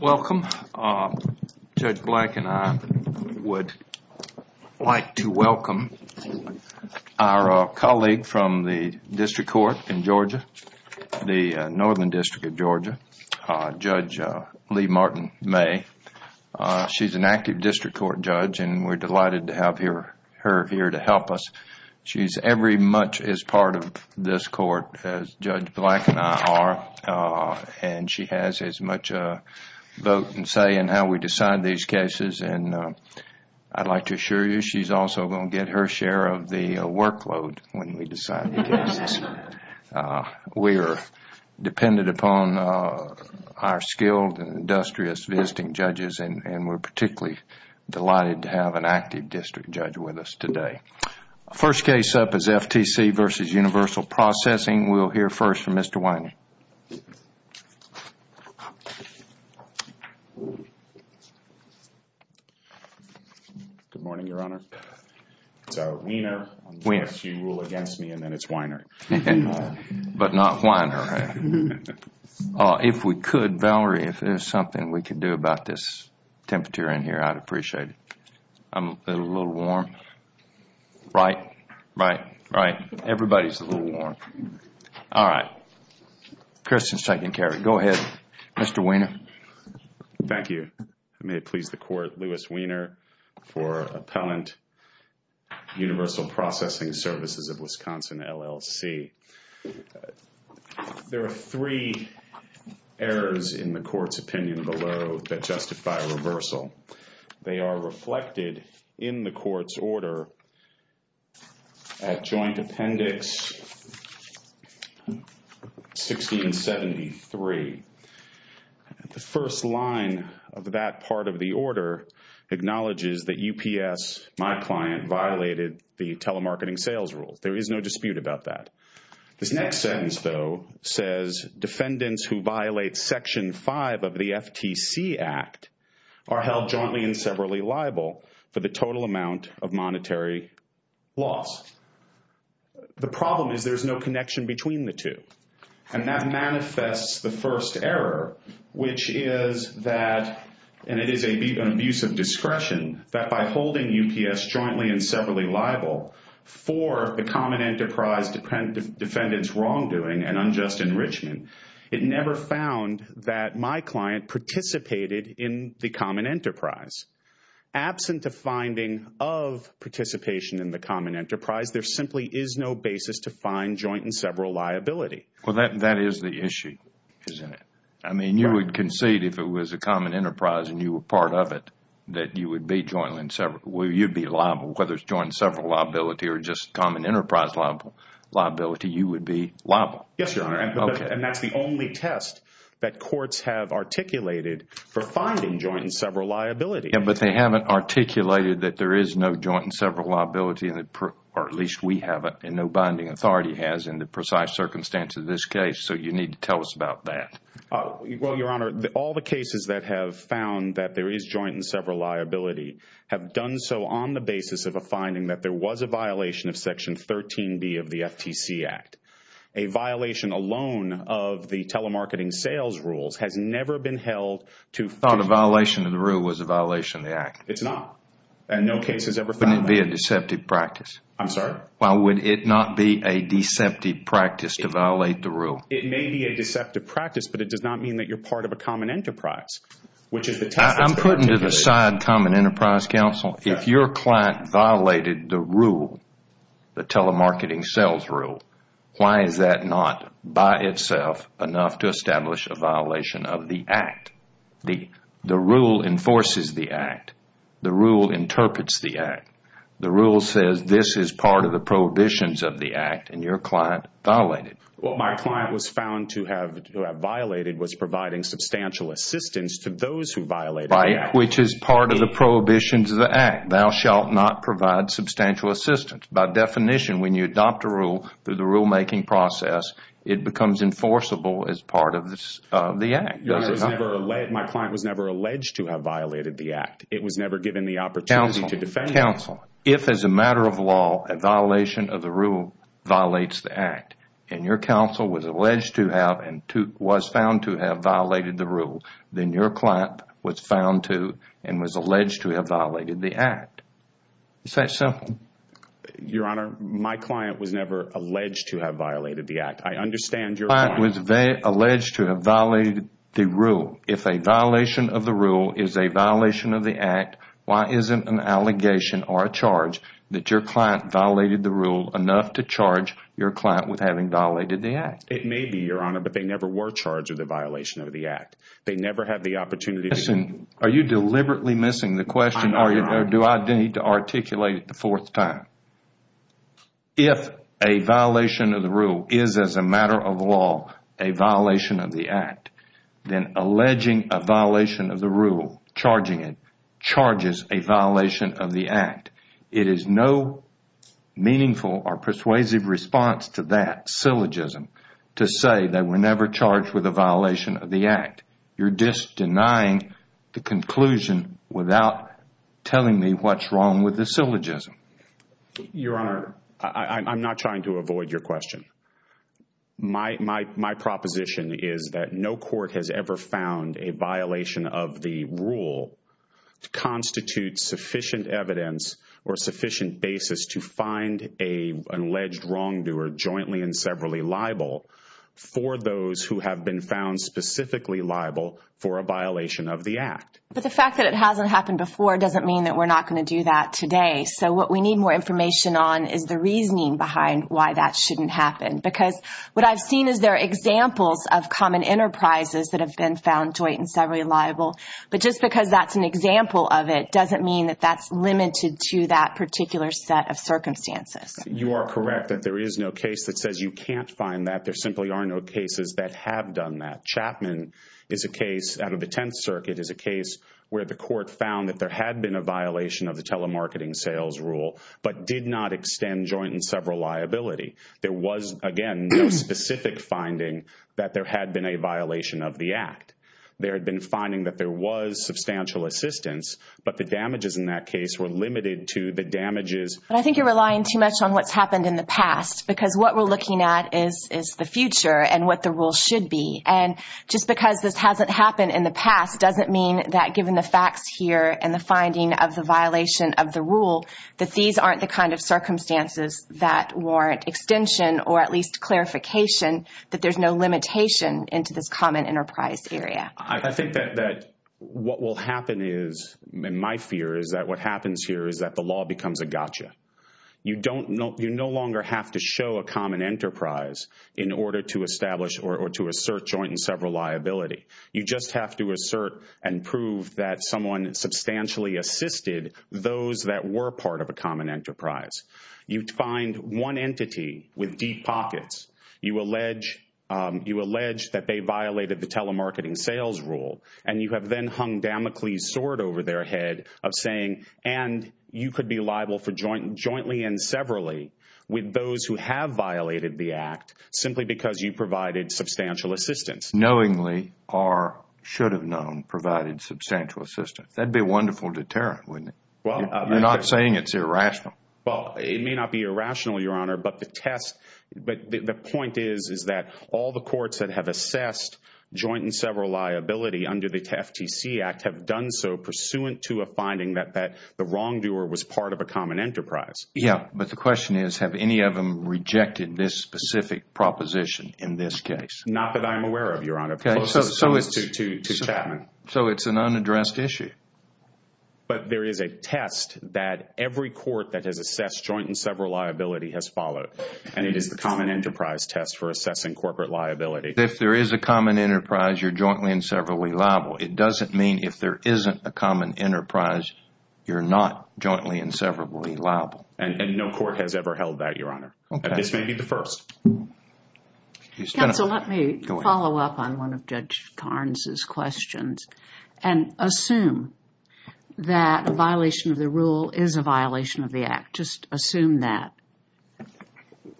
Welcome. Judge Black and I would like to welcome our colleague from the District Court in Georgia, the Northern District of Georgia, Judge Lee Martin May. She is an active District Court judge and we are delighted to have her here to help us. She is every much as part of this Court as Judge Black and I are. She has as much a vote and say in how we decide these cases. I would like to assure you she is also going to get her share of the workload when we decide the cases. We are dependent upon our skilled and industrious visiting judges and we are particularly delighted to have an active District Judge with us today. First case up is FTC v. Universal Processing. We will hear first from Mr. Weiner. Good morning, Your Honor. It is Wiener. You rule against me and then it is Weiner. But not Weiner. If we could, Valerie, if there is something we could do about this temperature in here, I would appreciate it. I am a little warm. Right, right, right. Everybody is a little warm. All right. Christian is taking care of it. Go ahead, Mr. Weiner. Thank you. May it please the Court, Louis Weiner for Appellant, Universal Processing Services of They are reflected in the Court's order at Joint Appendix 1673. The first line of that part of the order acknowledges that UPS, my client, violated the telemarketing sales rules. There is no dispute about that. This next sentence, says defendants who violate Section 5 of the FTC Act are held jointly and severally liable for the total amount of monetary loss. The problem is there is no connection between the two. And that manifests the first error, which is that, and it is an abuse of discretion, that by holding UPS jointly and severally liable for the common enterprise defendants' wrongdoing and unjust enrichment, it never found that my client participated in the common enterprise. Absent a finding of participation in the common enterprise, there simply is no basis to find joint and several liability. Well, that is the issue, isn't it? I mean, you would concede if it was a common enterprise and you were part of it, that you would be jointly and several, well, you would be liable whether it is joint and several liability or just liable. Yes, Your Honor. Okay. And that is the only test that courts have articulated for finding joint and several liability. Yeah, but they haven't articulated that there is no joint and several liability, or at least we haven't and no binding authority has in the precise circumstances of this case, so you need to tell us about that. Well, Your Honor, all the cases that have found that there is joint and several liability have done so on the basis of a finding that there was a violation of Section 13B of the FTC Act. A violation alone of the telemarketing sales rules has never been held to found a violation of the rule was a violation of the Act. It's not. And no case has ever found that. Wouldn't it be a deceptive practice? I'm sorry? Why would it not be a deceptive practice to violate the rule? It may be a deceptive practice, but it does not mean that you're part of a common enterprise, which is the test. I'm putting to the common enterprise counsel, if your client violated the rule, the telemarketing sales rule, why is that not by itself enough to establish a violation of the Act? The rule enforces the Act. The rule interprets the Act. The rule says this is part of the prohibitions of the Act, and your client violated it. My client was found to have violated was providing substantial assistance to those who violated the Act. Which is part of the prohibitions of the Act. Thou shalt not provide substantial assistance. By definition, when you adopt a rule through the rulemaking process, it becomes enforceable as part of the Act, does it not? My client was never alleged to have violated the Act. It was never given the opportunity to defend it. Counsel, counsel, if as a matter of law, a violation of the rule violates the Act, and your counsel was found to have violated the rule, then your client was found to and was alleged to have violated the Act. It's that simple. Your Honor, my client was never alleged to have violated the Act. I understand your client was alleged to have violated the rule. If a violation of the rule is a violation of the Act, why isn't an allegation or a charge that your client violated the rule enough to charge your client with having violated the Act? It may be, Your Honor, but they never were charged with a violation of the Act. They never had the opportunity. Are you deliberately missing the question or do I need to articulate it the fourth time? If a violation of the rule is, as a matter of law, a violation of the Act, then alleging a violation of the Act, it is no meaningful or persuasive response to that syllogism to say that we're never charged with a violation of the Act. You're just denying the conclusion without telling me what's wrong with the syllogism. Your Honor, I'm not trying to avoid your question. My proposition is that no court has ever found a violation of the rule to constitute sufficient evidence or sufficient basis to find an alleged wrongdoer jointly and severally liable for those who have been found specifically liable for a violation of the Act. But the fact that it hasn't happened before doesn't mean that we're not going to do that because what I've seen is there are examples of common enterprises that have been found jointly and severally liable, but just because that's an example of it doesn't mean that that's limited to that particular set of circumstances. You are correct that there is no case that says you can't find that. There simply are no cases that have done that. Chapman is a case out of the Tenth Circuit is a case where the court found that there had been a violation of the telemarketing sales rule but did not extend jointly and again, no specific finding that there had been a violation of the Act. There had been finding that there was substantial assistance, but the damages in that case were limited to the damages. I think you're relying too much on what's happened in the past because what we're looking at is the future and what the rule should be. And just because this hasn't happened in the past doesn't mean that given the facts here and the finding of the violation of the rule that these aren't the kind of circumstances that warrant extension or at least clarification that there's no limitation into this common enterprise area. I think that what will happen is, in my fear, is that what happens here is that the law becomes a gotcha. You no longer have to show a common enterprise in order to establish or to assert joint and several liability. You just have to assert and prove that someone substantially assisted those that were part of a common enterprise. You find one entity with deep pockets, you allege that they violated the telemarketing sales rule, and you have then hung Damocles' sword over their head of saying, and you could be liable for jointly and severally with those who have violated the Act simply because you provided substantial assistance. Knowingly, or should have known, provided substantial assistance. That'd be a wonderful deterrent, wouldn't it? You're not saying it's irrational. Well, it may not be irrational, Your Honor, but the point is that all the courts that have assessed joint and several liability under the FTC Act have done so pursuant to a finding that the wrongdoer was part of a common enterprise. Yeah, but the question is, have any of them rejected this specific proposition in this case? Not that I'm aware of, Your Honor, close to Chapman. So it's an unaddressed issue. But there is a test that every court that has assessed joint and several liability has followed, and it is the common enterprise test for assessing corporate liability. If there is a common enterprise, you're jointly and severably liable. It doesn't mean if there isn't a common enterprise, you're not jointly and severably liable. And no court has ever held that, Your Honor. This may be the first. Counsel, let me follow up on one of Judge Carnes' questions and assume that a violation of the rule is a violation of the Act. Just assume that.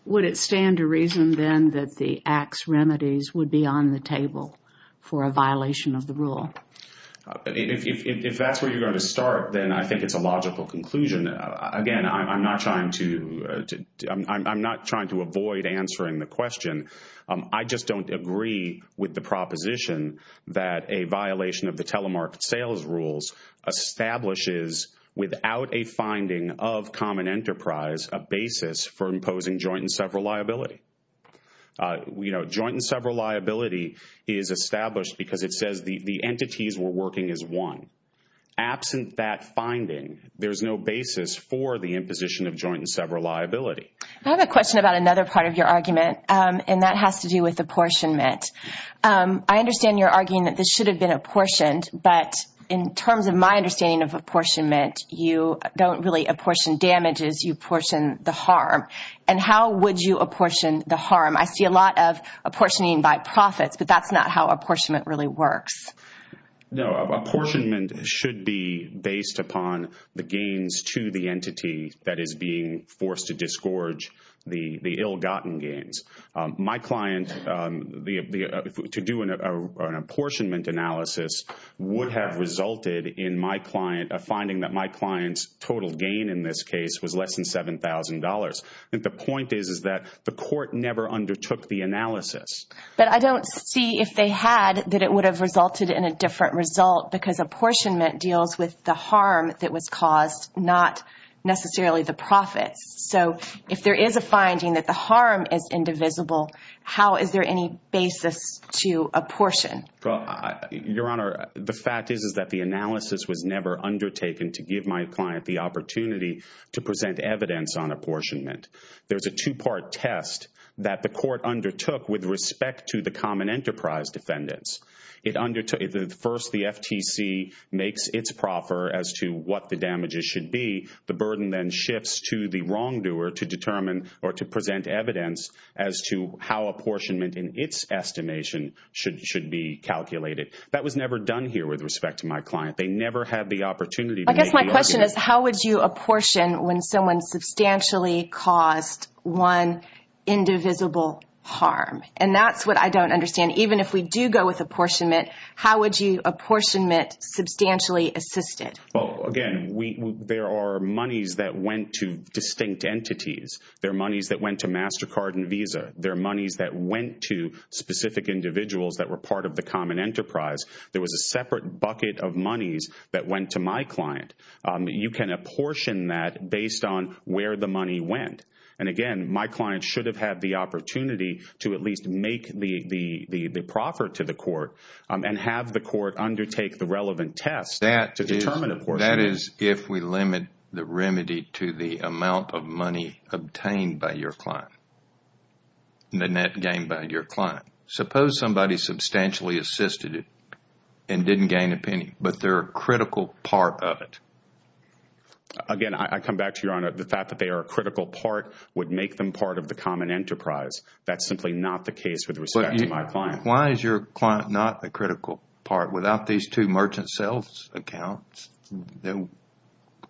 Would it stand to reason then that the Act's remedies would be on the table for a violation of the rule? If that's where you're going to start, then I think it's a logical conclusion. Again, I'm not trying to avoid answering the question. I just don't agree with the proposition that a violation of the telemarket sales rules establishes, without a finding of common enterprise, a basis for imposing joint and several liability. Joint and several liability is established because it says the entities we're working is one. Absent that finding, there's no basis for the imposition of joint and several liability. I have a question about another part of your argument, and that has to do with apportionment. I understand you're arguing that this should have been apportioned, but in terms of my understanding of apportionment, you don't really apportion damages. You portion the harm. And how would you apportion the harm? I see a lot of apportioning by profits, but that's not how apportionment really works. No, apportionment should be based upon the gains to the entity that is being forced to disgorge the ill-gotten gains. To do an apportionment analysis would have resulted in a finding that my client's total gain in this case was less than $7,000. The point is that the court never undertook the analysis. But I don't see if they had that it would have resulted in a different result because apportionment deals with the harm that was caused, not necessarily the profits. So if there is a finding that the harm is indivisible, how is there any basis to apportion? Your Honor, the fact is that the analysis was never undertaken to give my client the opportunity to present evidence on apportionment. There's a two-part test that the court undertook with respect to the common enterprise defendants. First, the FTC makes its proffer as to what the damages should be. The burden then shifts to the wrongdoer to determine or to present evidence as to how apportionment in its estimation should be calculated. That was never done here with respect to my client. They never had the opportunity. I guess my question is, how would you apportion when someone substantially caused one indivisible harm? And that's what I don't understand. Even if we do go with apportionment, how would you apportionment substantially assisted? Well, again, there are monies that went to distinct entities. There are monies that went to MasterCard and Visa. There are monies that went to specific individuals that were part of the common enterprise. There was a separate bucket of monies that went to my client. You can apportion that based on where the money went. And, again, my client should have had the opportunity to at least make the proffer to the court and have the court undertake the relevant test to determine apportionment. That is if we limit the remedy to the amount of money obtained by your client, the net gain by your client. Suppose somebody substantially assisted it and didn't gain a penny, but they're a critical part of it. Again, I come back to your Honor, the fact that they are a critical part would make them part of the common enterprise. That's simply not the case with respect to my client. Why is your client not the critical part? Without these two merchant sales accounts, the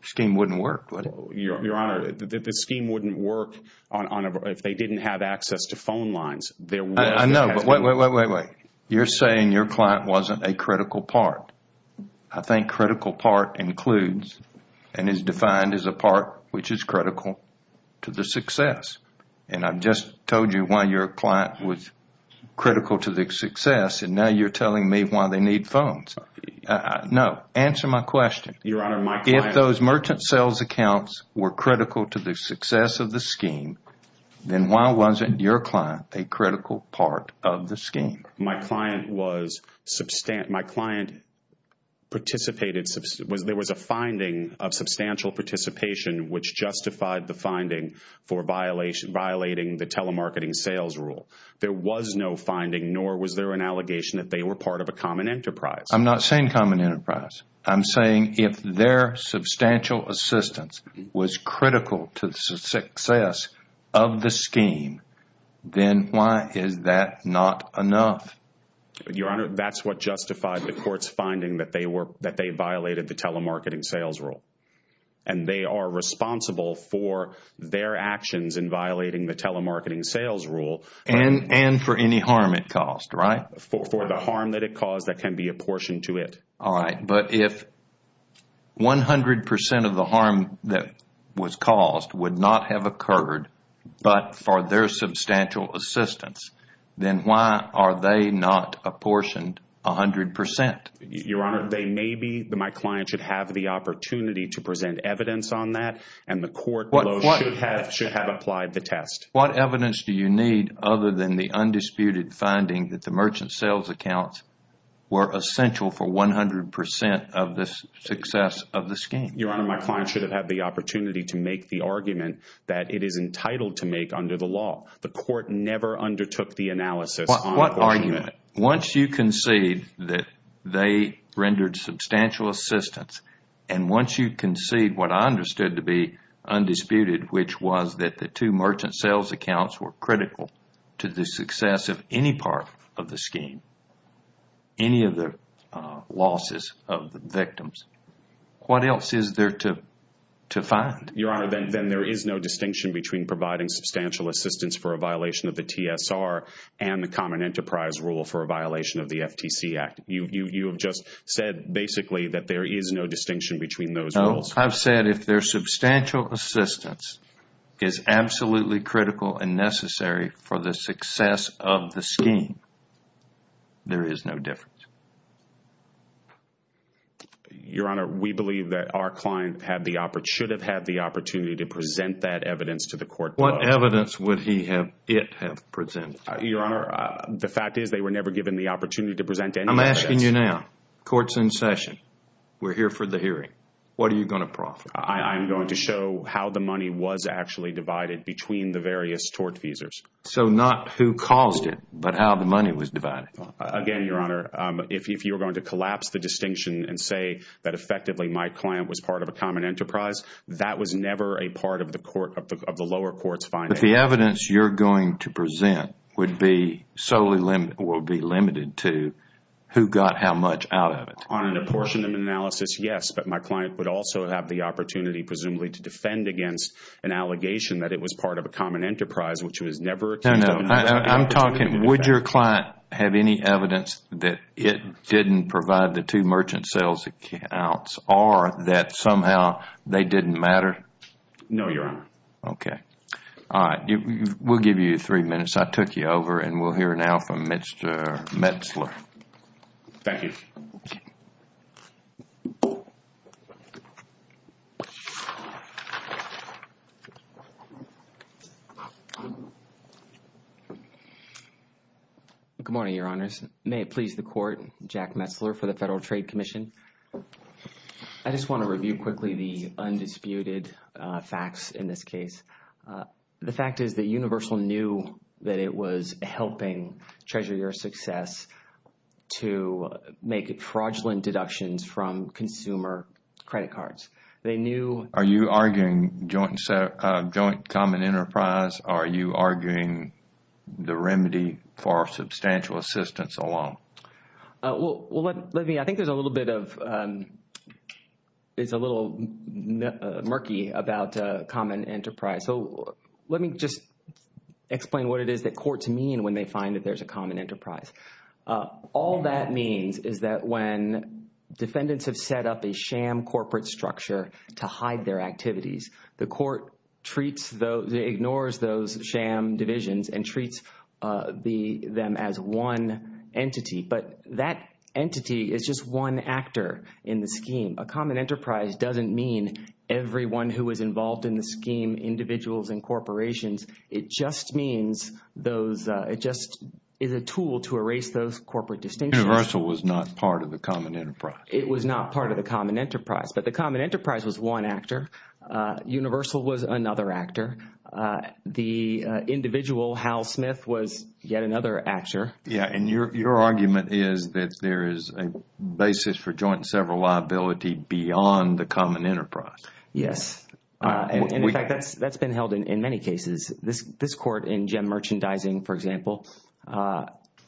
scheme wouldn't work, would it? Your Honor, the scheme wouldn't work if they didn't have access to phone lines. I know, but wait, wait, wait. You're saying your client wasn't a critical part. I think critical part includes and is defined as a part which is critical to the success. I've just told you why your client was critical to the success and now you're telling me why they need phones. No, answer my question. If those merchant sales accounts were critical to the success of the scheme, then why wasn't your client a critical part of the scheme? My client participated, there was a finding of substantial participation which justified the finding for violating the telemarketing sales rule. There was no finding nor was there an allegation that they were part of a common enterprise. I'm not saying common enterprise. I'm saying if their substantial assistance was critical to the success of the scheme, then why is that not enough? Your Honor, that's what justified the court's finding that they violated the telemarketing sales rule and they are responsible for their actions in violating the telemarketing sales rule. And for any harm it caused, right? For the harm that it caused, that can be apportioned to it. All right. But if 100% of the harm that was caused would not have occurred but for their substantial assistance, then why are they not apportioned 100%? Your Honor, they may be. My client should have the opportunity to present evidence on that and the court should have applied the test. What evidence do you need other than the undisputed finding that the merchant sales accounts were essential for 100% of the success of the scheme? Your Honor, my client should have had the opportunity to make the argument that it is entitled to make under the law. The court never undertook the analysis. What argument? Once you concede that they rendered substantial assistance and once you concede what I understood to be undisputed, which was that the two merchant sales accounts were critical to the success of any part of the scheme, any of the losses of the victims, what else is there to find? Your Honor, then there is no distinction between providing substantial assistance for a violation of the TSR and the common enterprise rule for a violation of the FTC Act. You have just said basically that there is no distinction between those rules. I've said if their substantial assistance is absolutely critical and necessary for the success of the scheme, there is no difference. Your Honor, we believe that our client should have had the opportunity to present that evidence to the court. What evidence would it have presented? Your Honor, the fact is they were never given the opportunity to present any evidence. I'm asking you now. Court's in session. We're here for the hearing. What are you going to profit? I'm going to show how the money was actually divided between the various tort feasors. So not who caused it, but how the money was divided. Again, Your Honor, if you're going to collapse the distinction and say that effectively my client was part of a common enterprise, that was never a part of the lower court's finding. The evidence you're going to present would be solely limited to who got how much out of it. On an apportionment analysis, yes, but my client would also have the opportunity presumably to I'm talking. Would your client have any evidence that it didn't provide the two merchant sales accounts or that somehow they didn't matter? No, Your Honor. Okay. All right. We'll give you three minutes. I took you over and we'll hear now from Mr. Metzler. Thank you. Good morning, Your Honors. May it please the court, Jack Metzler for the Federal Trade Commission. I just want to review quickly the undisputed facts in this case. The fact is that Universal knew that it was helping Treasurer Success to make fraudulent deductions from consumer credit cards. They knew Are you arguing joint common enterprise? Are you arguing the remedy for substantial assistance alone? Well, let me, I think there's a little bit of, it's a little murky about common enterprise. So let me just explain what it is that courts mean when they find that there's a common enterprise. All that means is that when defendants have set up a sham corporate structure to hide their activities, the court treats those, ignores those sham divisions and treats them as one entity. But that entity is just one actor in the scheme. A common enterprise doesn't mean everyone who was involved in the scheme, individuals and corporations. It just means those, it just is a tool to erase those corporate distinctions. Universal was not part of the common enterprise. It was not part of the common enterprise. But the common enterprise was one actor. Universal was another actor. The individual, Hal Smith, was yet another actor. Yeah, and your argument is that there is a basis for joint and several liability beyond the common enterprise. Yes, and in fact, that's been held in many cases. This court in Gem Merchandising, for example,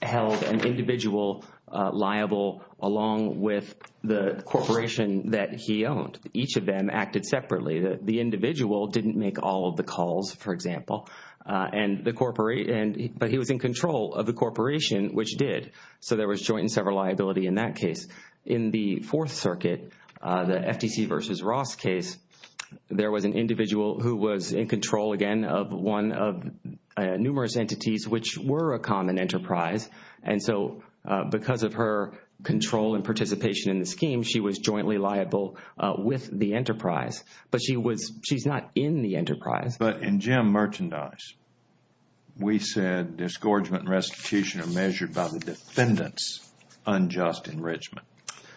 held an individual liable along with the corporation that he owned. Each of them acted separately. The individual didn't make all of the calls, for example, but he was in control of the corporation, which did. So there was joint and several liability in that case. In the Fourth Circuit, the FTC versus Ross case, there was an individual who was in control again of one of numerous entities which were a common enterprise. And so because of her control and participation in the scheme, she was jointly liable with the enterprise. But she's not in the enterprise. But in Gem Merchandise, we said disgorgement and restitution are measured by the defendant's unjust enrichment.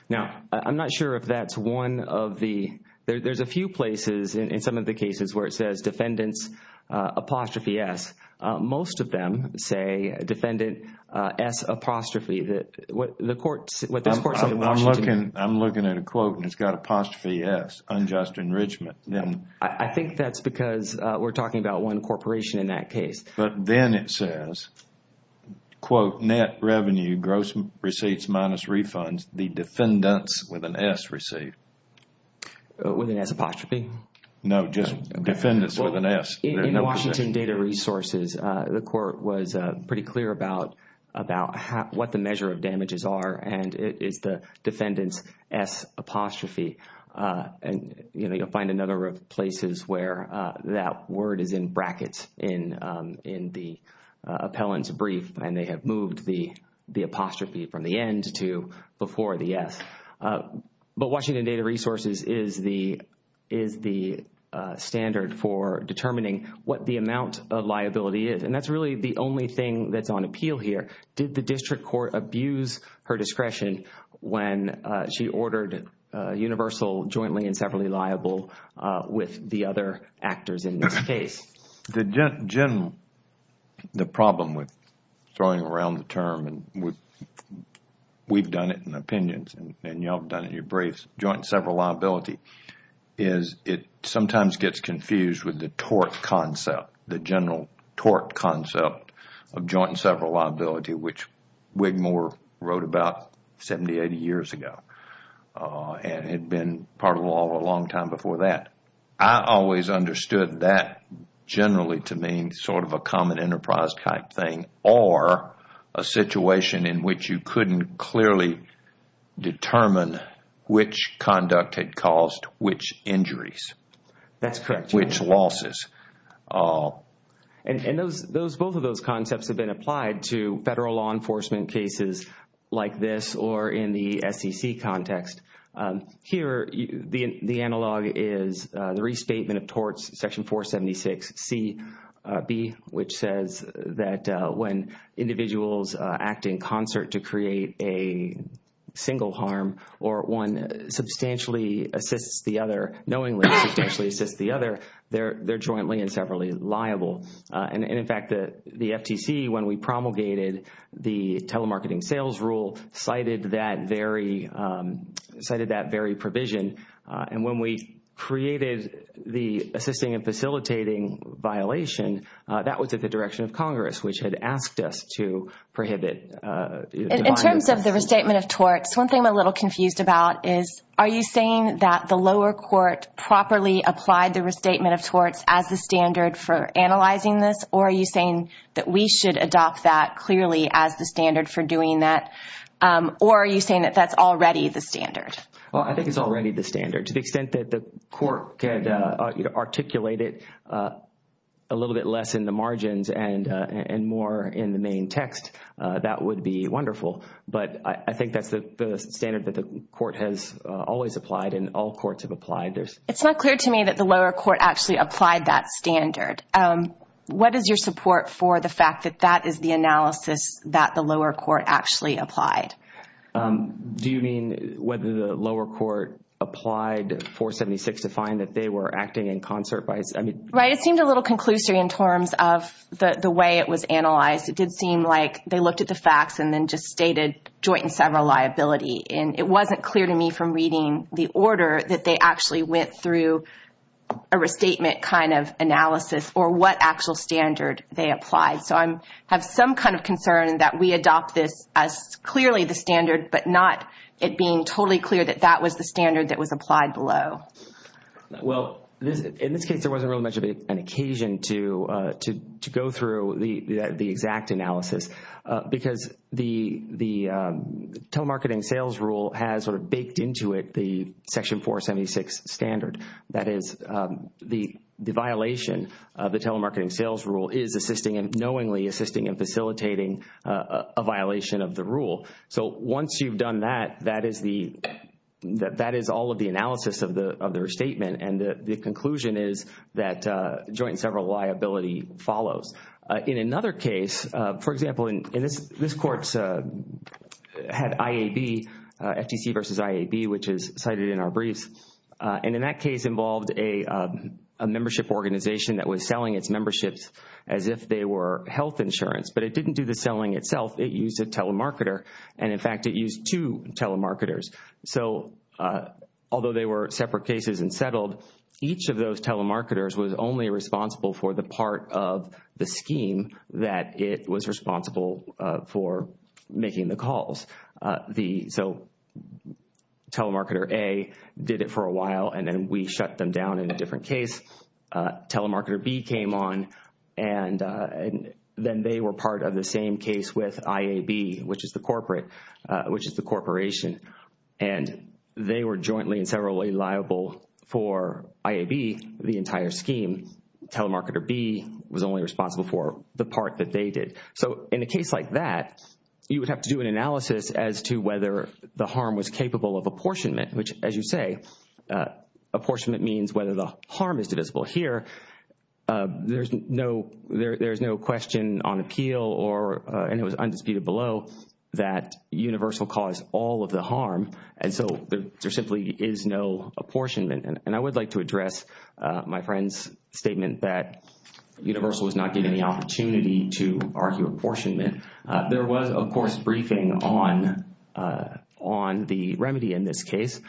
Now, I'm not sure if that's one of the, there's a few places in some of the cases where it says defendants apostrophe S. Most of them say defendant S apostrophe. I'm looking at a quote and it's got apostrophe S, unjust enrichment. I think that's because we're talking about one corporation in that case. But then it says, quote, net revenue gross receipts minus refunds, the defendants with an S receive. With an S apostrophe? No, just defendants with an S. In Washington Data Resources, the court was pretty clear about what the measure of damages are and it is the defendant's S apostrophe. And you'll find another of places where that word is in brackets in the appellant's brief. And they have moved the apostrophe from the end to before the S. But Washington Data Resources is the standard for determining what the amount of liability is. And that's really the only thing that's on appeal here. Did the district court abuse her discretion when she ordered universal, jointly and separately liable with the other actors in this case? The problem with throwing around the term and with we've done it in opinions and y'all have done it in your briefs, joint and separate liability, is it sometimes gets confused with the tort concept, the general tort concept of joint and separate liability, which Wigmore wrote about 70, 80 years ago and had been part of the law a long time before that. I always understood that generally to mean sort of a common enterprise type thing or a situation in which you couldn't clearly determine which conduct had caused which injuries. That's correct. Which losses. And both of those concepts have been applied to federal law enforcement cases like this or in the SEC context. Here, the analog is the restatement of torts section 476 C.B., which says that when individuals act in concert to create a single harm or one substantially assists the other, knowingly substantially assists the other, they're jointly and separately liable. And in fact, the FTC, when we promulgated the telemarketing sales rule, cited that very provision. And when we created the assisting and facilitating violation, that was at the direction of Congress, which had asked us to prohibit. In terms of the restatement of torts, one thing I'm a little confused about is are you saying that the lower court properly applied the restatement of torts as the standard for analyzing this? Or are you saying that we should adopt that clearly as the standard for doing that? Or are you saying that that's already the standard? Well, I think it's already the standard. To the extent that the court can articulate it a little bit less in the margins and more in the main text, that would be wonderful. But I think that's the standard that the court has always applied and all courts have applied. It's not clear to me that the lower court actually applied that standard. What is your support for the fact that that is the analysis that the lower court actually applied? Do you mean whether the lower court applied 476 to find that they were acting in concert? Right. It seemed a little conclusory in terms of the way it was analyzed. It did seem like they looked at the facts and then just stated joint and several liability. And it wasn't clear to me from reading the order that they actually went through a restatement kind of analysis or what actual standard they applied. So I have some kind of concern that we adopt this as clearly the standard, but not it being totally clear that that was the standard that was applied below. Well, in this case, there wasn't really much of an occasion to go through the exact analysis because the telemarketing sales rule has sort of baked into it the section 476 standard. That is the violation of the telemarketing sales rule knowingly assisting and facilitating a violation of the rule. So once you've done that, that is all of the analysis of the restatement. And the conclusion is that joint and several liability follows. In another case, for example, this court had IAB, FTC versus IAB, which is cited in our briefs. And in that case involved a membership organization that was selling its memberships as if they were health insurance. But it didn't do the selling itself. It used a telemarketer. And in fact, it used two telemarketers. So although they were separate cases and settled, each of those telemarketers was only responsible for the part of the scheme that it was responsible for making the calls. So telemarketer A did it for a while, and then we shut them down in a different case. Telemarketer B came on, and then they were part of the same case with IAB, which is the corporation. And they were jointly and severally liable for IAB, the entire scheme. Telemarketer B was only responsible for the part that they did. So in a case like that, you would have to do an analysis as to whether the harm was capable of apportionment, which, as you say, apportionment means whether the harm is divisible. Here, there's no question on appeal, and it was undisputed below, that Universal caused all of the harm. And so there simply is no apportionment. And I would like to address my friend's statement that Universal was not given the opportunity to argue apportionment. There was, of course, briefing on the remedy in this case.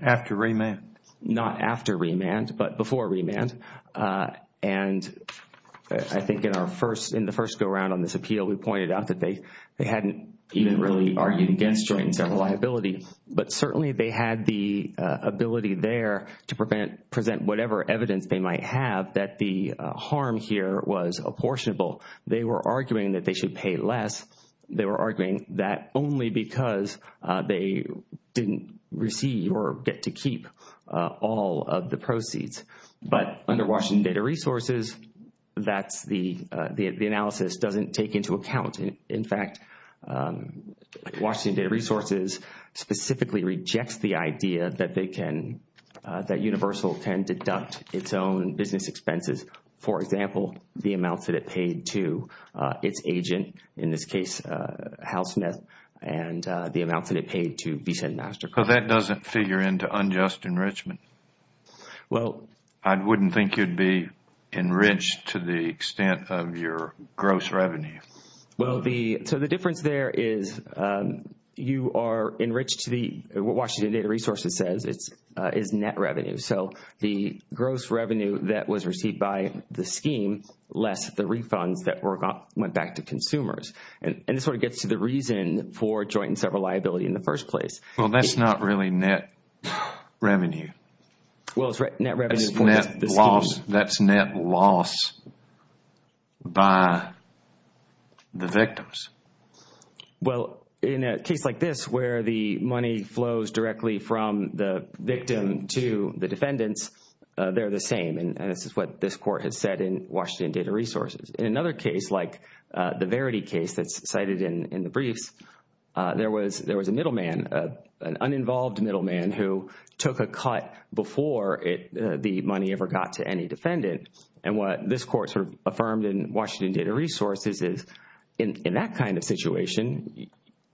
After remand? Not after remand, but before remand. And I think in the first go around on this appeal, we pointed out that they hadn't even really argued against joint and sever liability. But certainly, they had the ability there to present whatever evidence they might have that the harm here was apportionable. They were arguing that they should pay less. They were arguing that only because they didn't receive or get to keep all of the proceeds. But under Washington Data Resources, that's the analysis doesn't take into account. In fact, Washington Data Resources specifically rejects the idea that they can, that Universal can deduct its own business expenses. For example, the amounts that it paid to its agent, in this case, Hal Smith, and the amounts that it paid to BCN MasterCard. So that doesn't figure into unjust enrichment? I wouldn't think you'd be enriched to the extent of your gross revenue. Well, so the difference there is you are enriched to the, what Washington Data Resources says is net revenue. So the gross revenue that was received by the scheme, less the refunds that went back to consumers. And this sort of gets to the reason for joint and sever liability in the first place. Well, that's not really net revenue. Well, it's net revenue. It's net loss. That's net loss by the victims. Well, in a case like this, where the money flows directly from the victim to the defendants, they're the same. And this is what this court has said in Washington Data Resources. In another case, like the Verity case that's cited in the briefs, there was a middleman, an uninvolved middleman, who took a cut before the money ever got to any defendant. And what this court sort of affirmed in Washington Data Resources is in that kind of situation,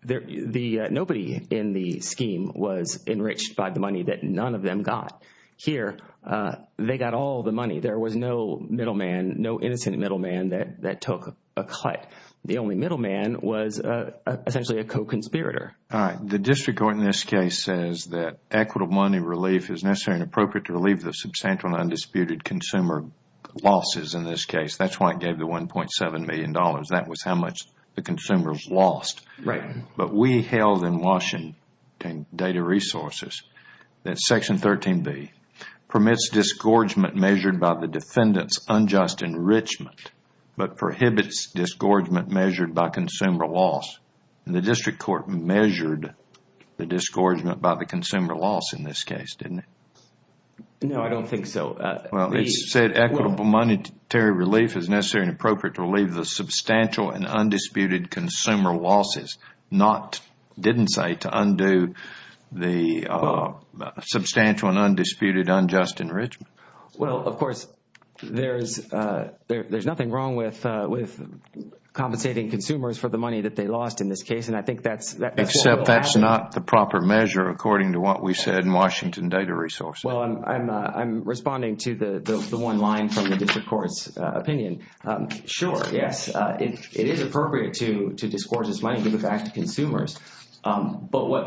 nobody in the scheme was enriched by the money that none of them got. Here, they got all the money. There was no middleman, no innocent middleman that took a cut. The only middleman was essentially a co-conspirator. The district court in this case says that equitable money relief is necessary and appropriate to relieve the substantial and undisputed consumer losses in this case. That's why it gave the $1.7 million. That was how much the consumers lost. Right. But we held in Washington Data Resources that Section 13b permits disgorgement measured by the defendant's unjust enrichment but prohibits disgorgement measured by consumer loss. The district court measured the disgorgement by the consumer loss in this case, didn't it? No, I don't think so. It said equitable monetary relief is necessary and appropriate to relieve the substantial and undisputed consumer losses, didn't say to undo the substantial and undisputed unjust enrichment. Well, of course, there's nothing wrong with compensating consumers for the money that they lost in this case. And I think that's- Except that's not the proper measure according to what we said in Washington Data Resources. Well, I'm responding to the one line from the district court's opinion. Sure, yes, it is appropriate to disgorge this money and give it back to consumers. But what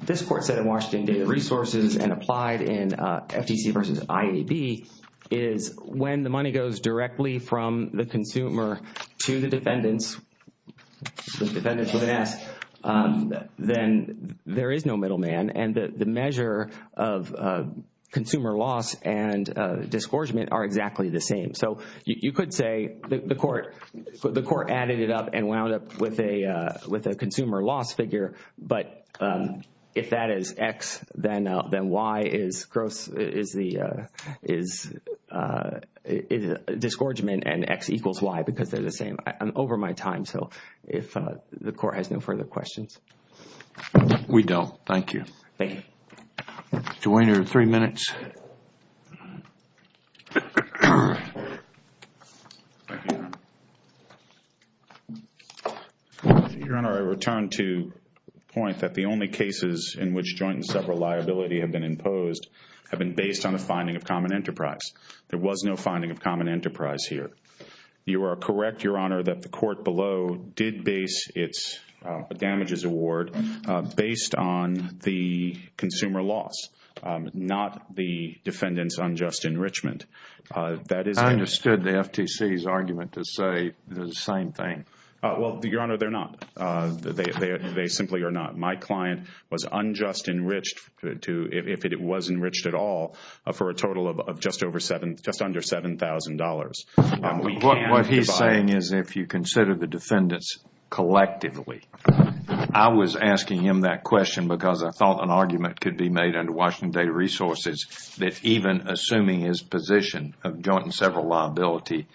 this court said in Washington Data Resources and applied in FTC versus IAB is when the money goes directly from the consumer to the defendants, the defendants with an S, then there is no middleman. And the measure of consumer loss and disgorgement are exactly the same. So you could say the court added it up and wound up with a consumer loss figure. But if that is X, then Y is disgorgement and X equals Y because they're the same. I'm over my time. So if the court has no further questions. We don't. Thank you. Thank you. Dwayne, you have three minutes. Your Honor, I return to the point that the only cases in which joint and several liability have been imposed have been based on a finding of common enterprise. There was no finding of common enterprise here. You are correct, Your Honor, that the court below did base its damages award based on the consumer loss, not the disgorgement. I understood the FTC's argument to say the same thing. Well, Your Honor, they're not. They simply are not. My client was unjust enriched, if it was enriched at all, for a total of just under $7,000. What he's saying is if you consider the defendants collectively. I was asking him that question because I thought an argument could be made under Washington Data Resources that even assuming his position of joint and several liability,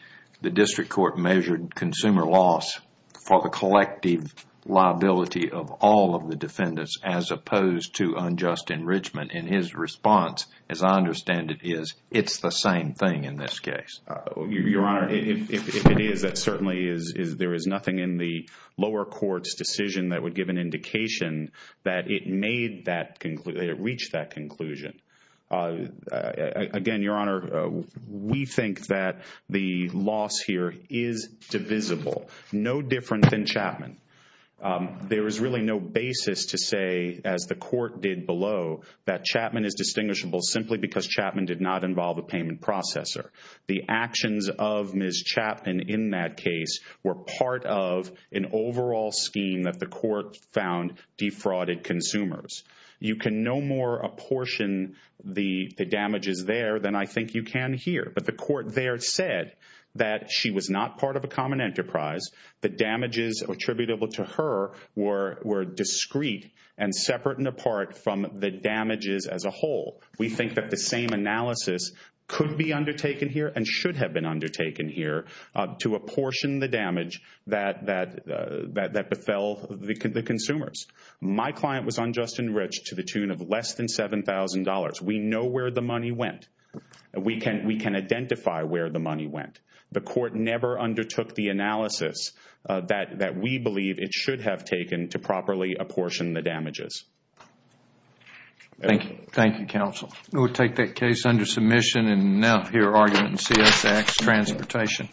the district court measured consumer loss for the collective liability of all of the defendants as opposed to unjust enrichment. And his response, as I understand it, is it's the same thing in this case. Your Honor, if it is, that certainly is. There is nothing in the lower court's decision that would give an indication that it reached that conclusion. Again, Your Honor, we think that the loss here is divisible, no different than Chapman. There is really no basis to say, as the court did below, that Chapman is distinguishable simply because Chapman did not involve a payment processor. The actions of Ms. Chapman in that case were part of an overall scheme that the court found defrauded consumers. You can no more apportion the damages there than I think you can here. But the court there said that she was not part of a common enterprise. The damages attributable to her were discrete and separate and apart from the damages as a whole. We think that the same analysis could be undertaken here and should have been undertaken here to apportion the damage that befell the consumers. My client was unjust and rich to the tune of less than $7,000. We know where the money went. We can identify where the money went. The court never undertook the analysis that we believe it should have taken to properly apportion the damages. Thank you. Thank you, counsel. We will take that case under submission and now hear argument in CSX Transportation.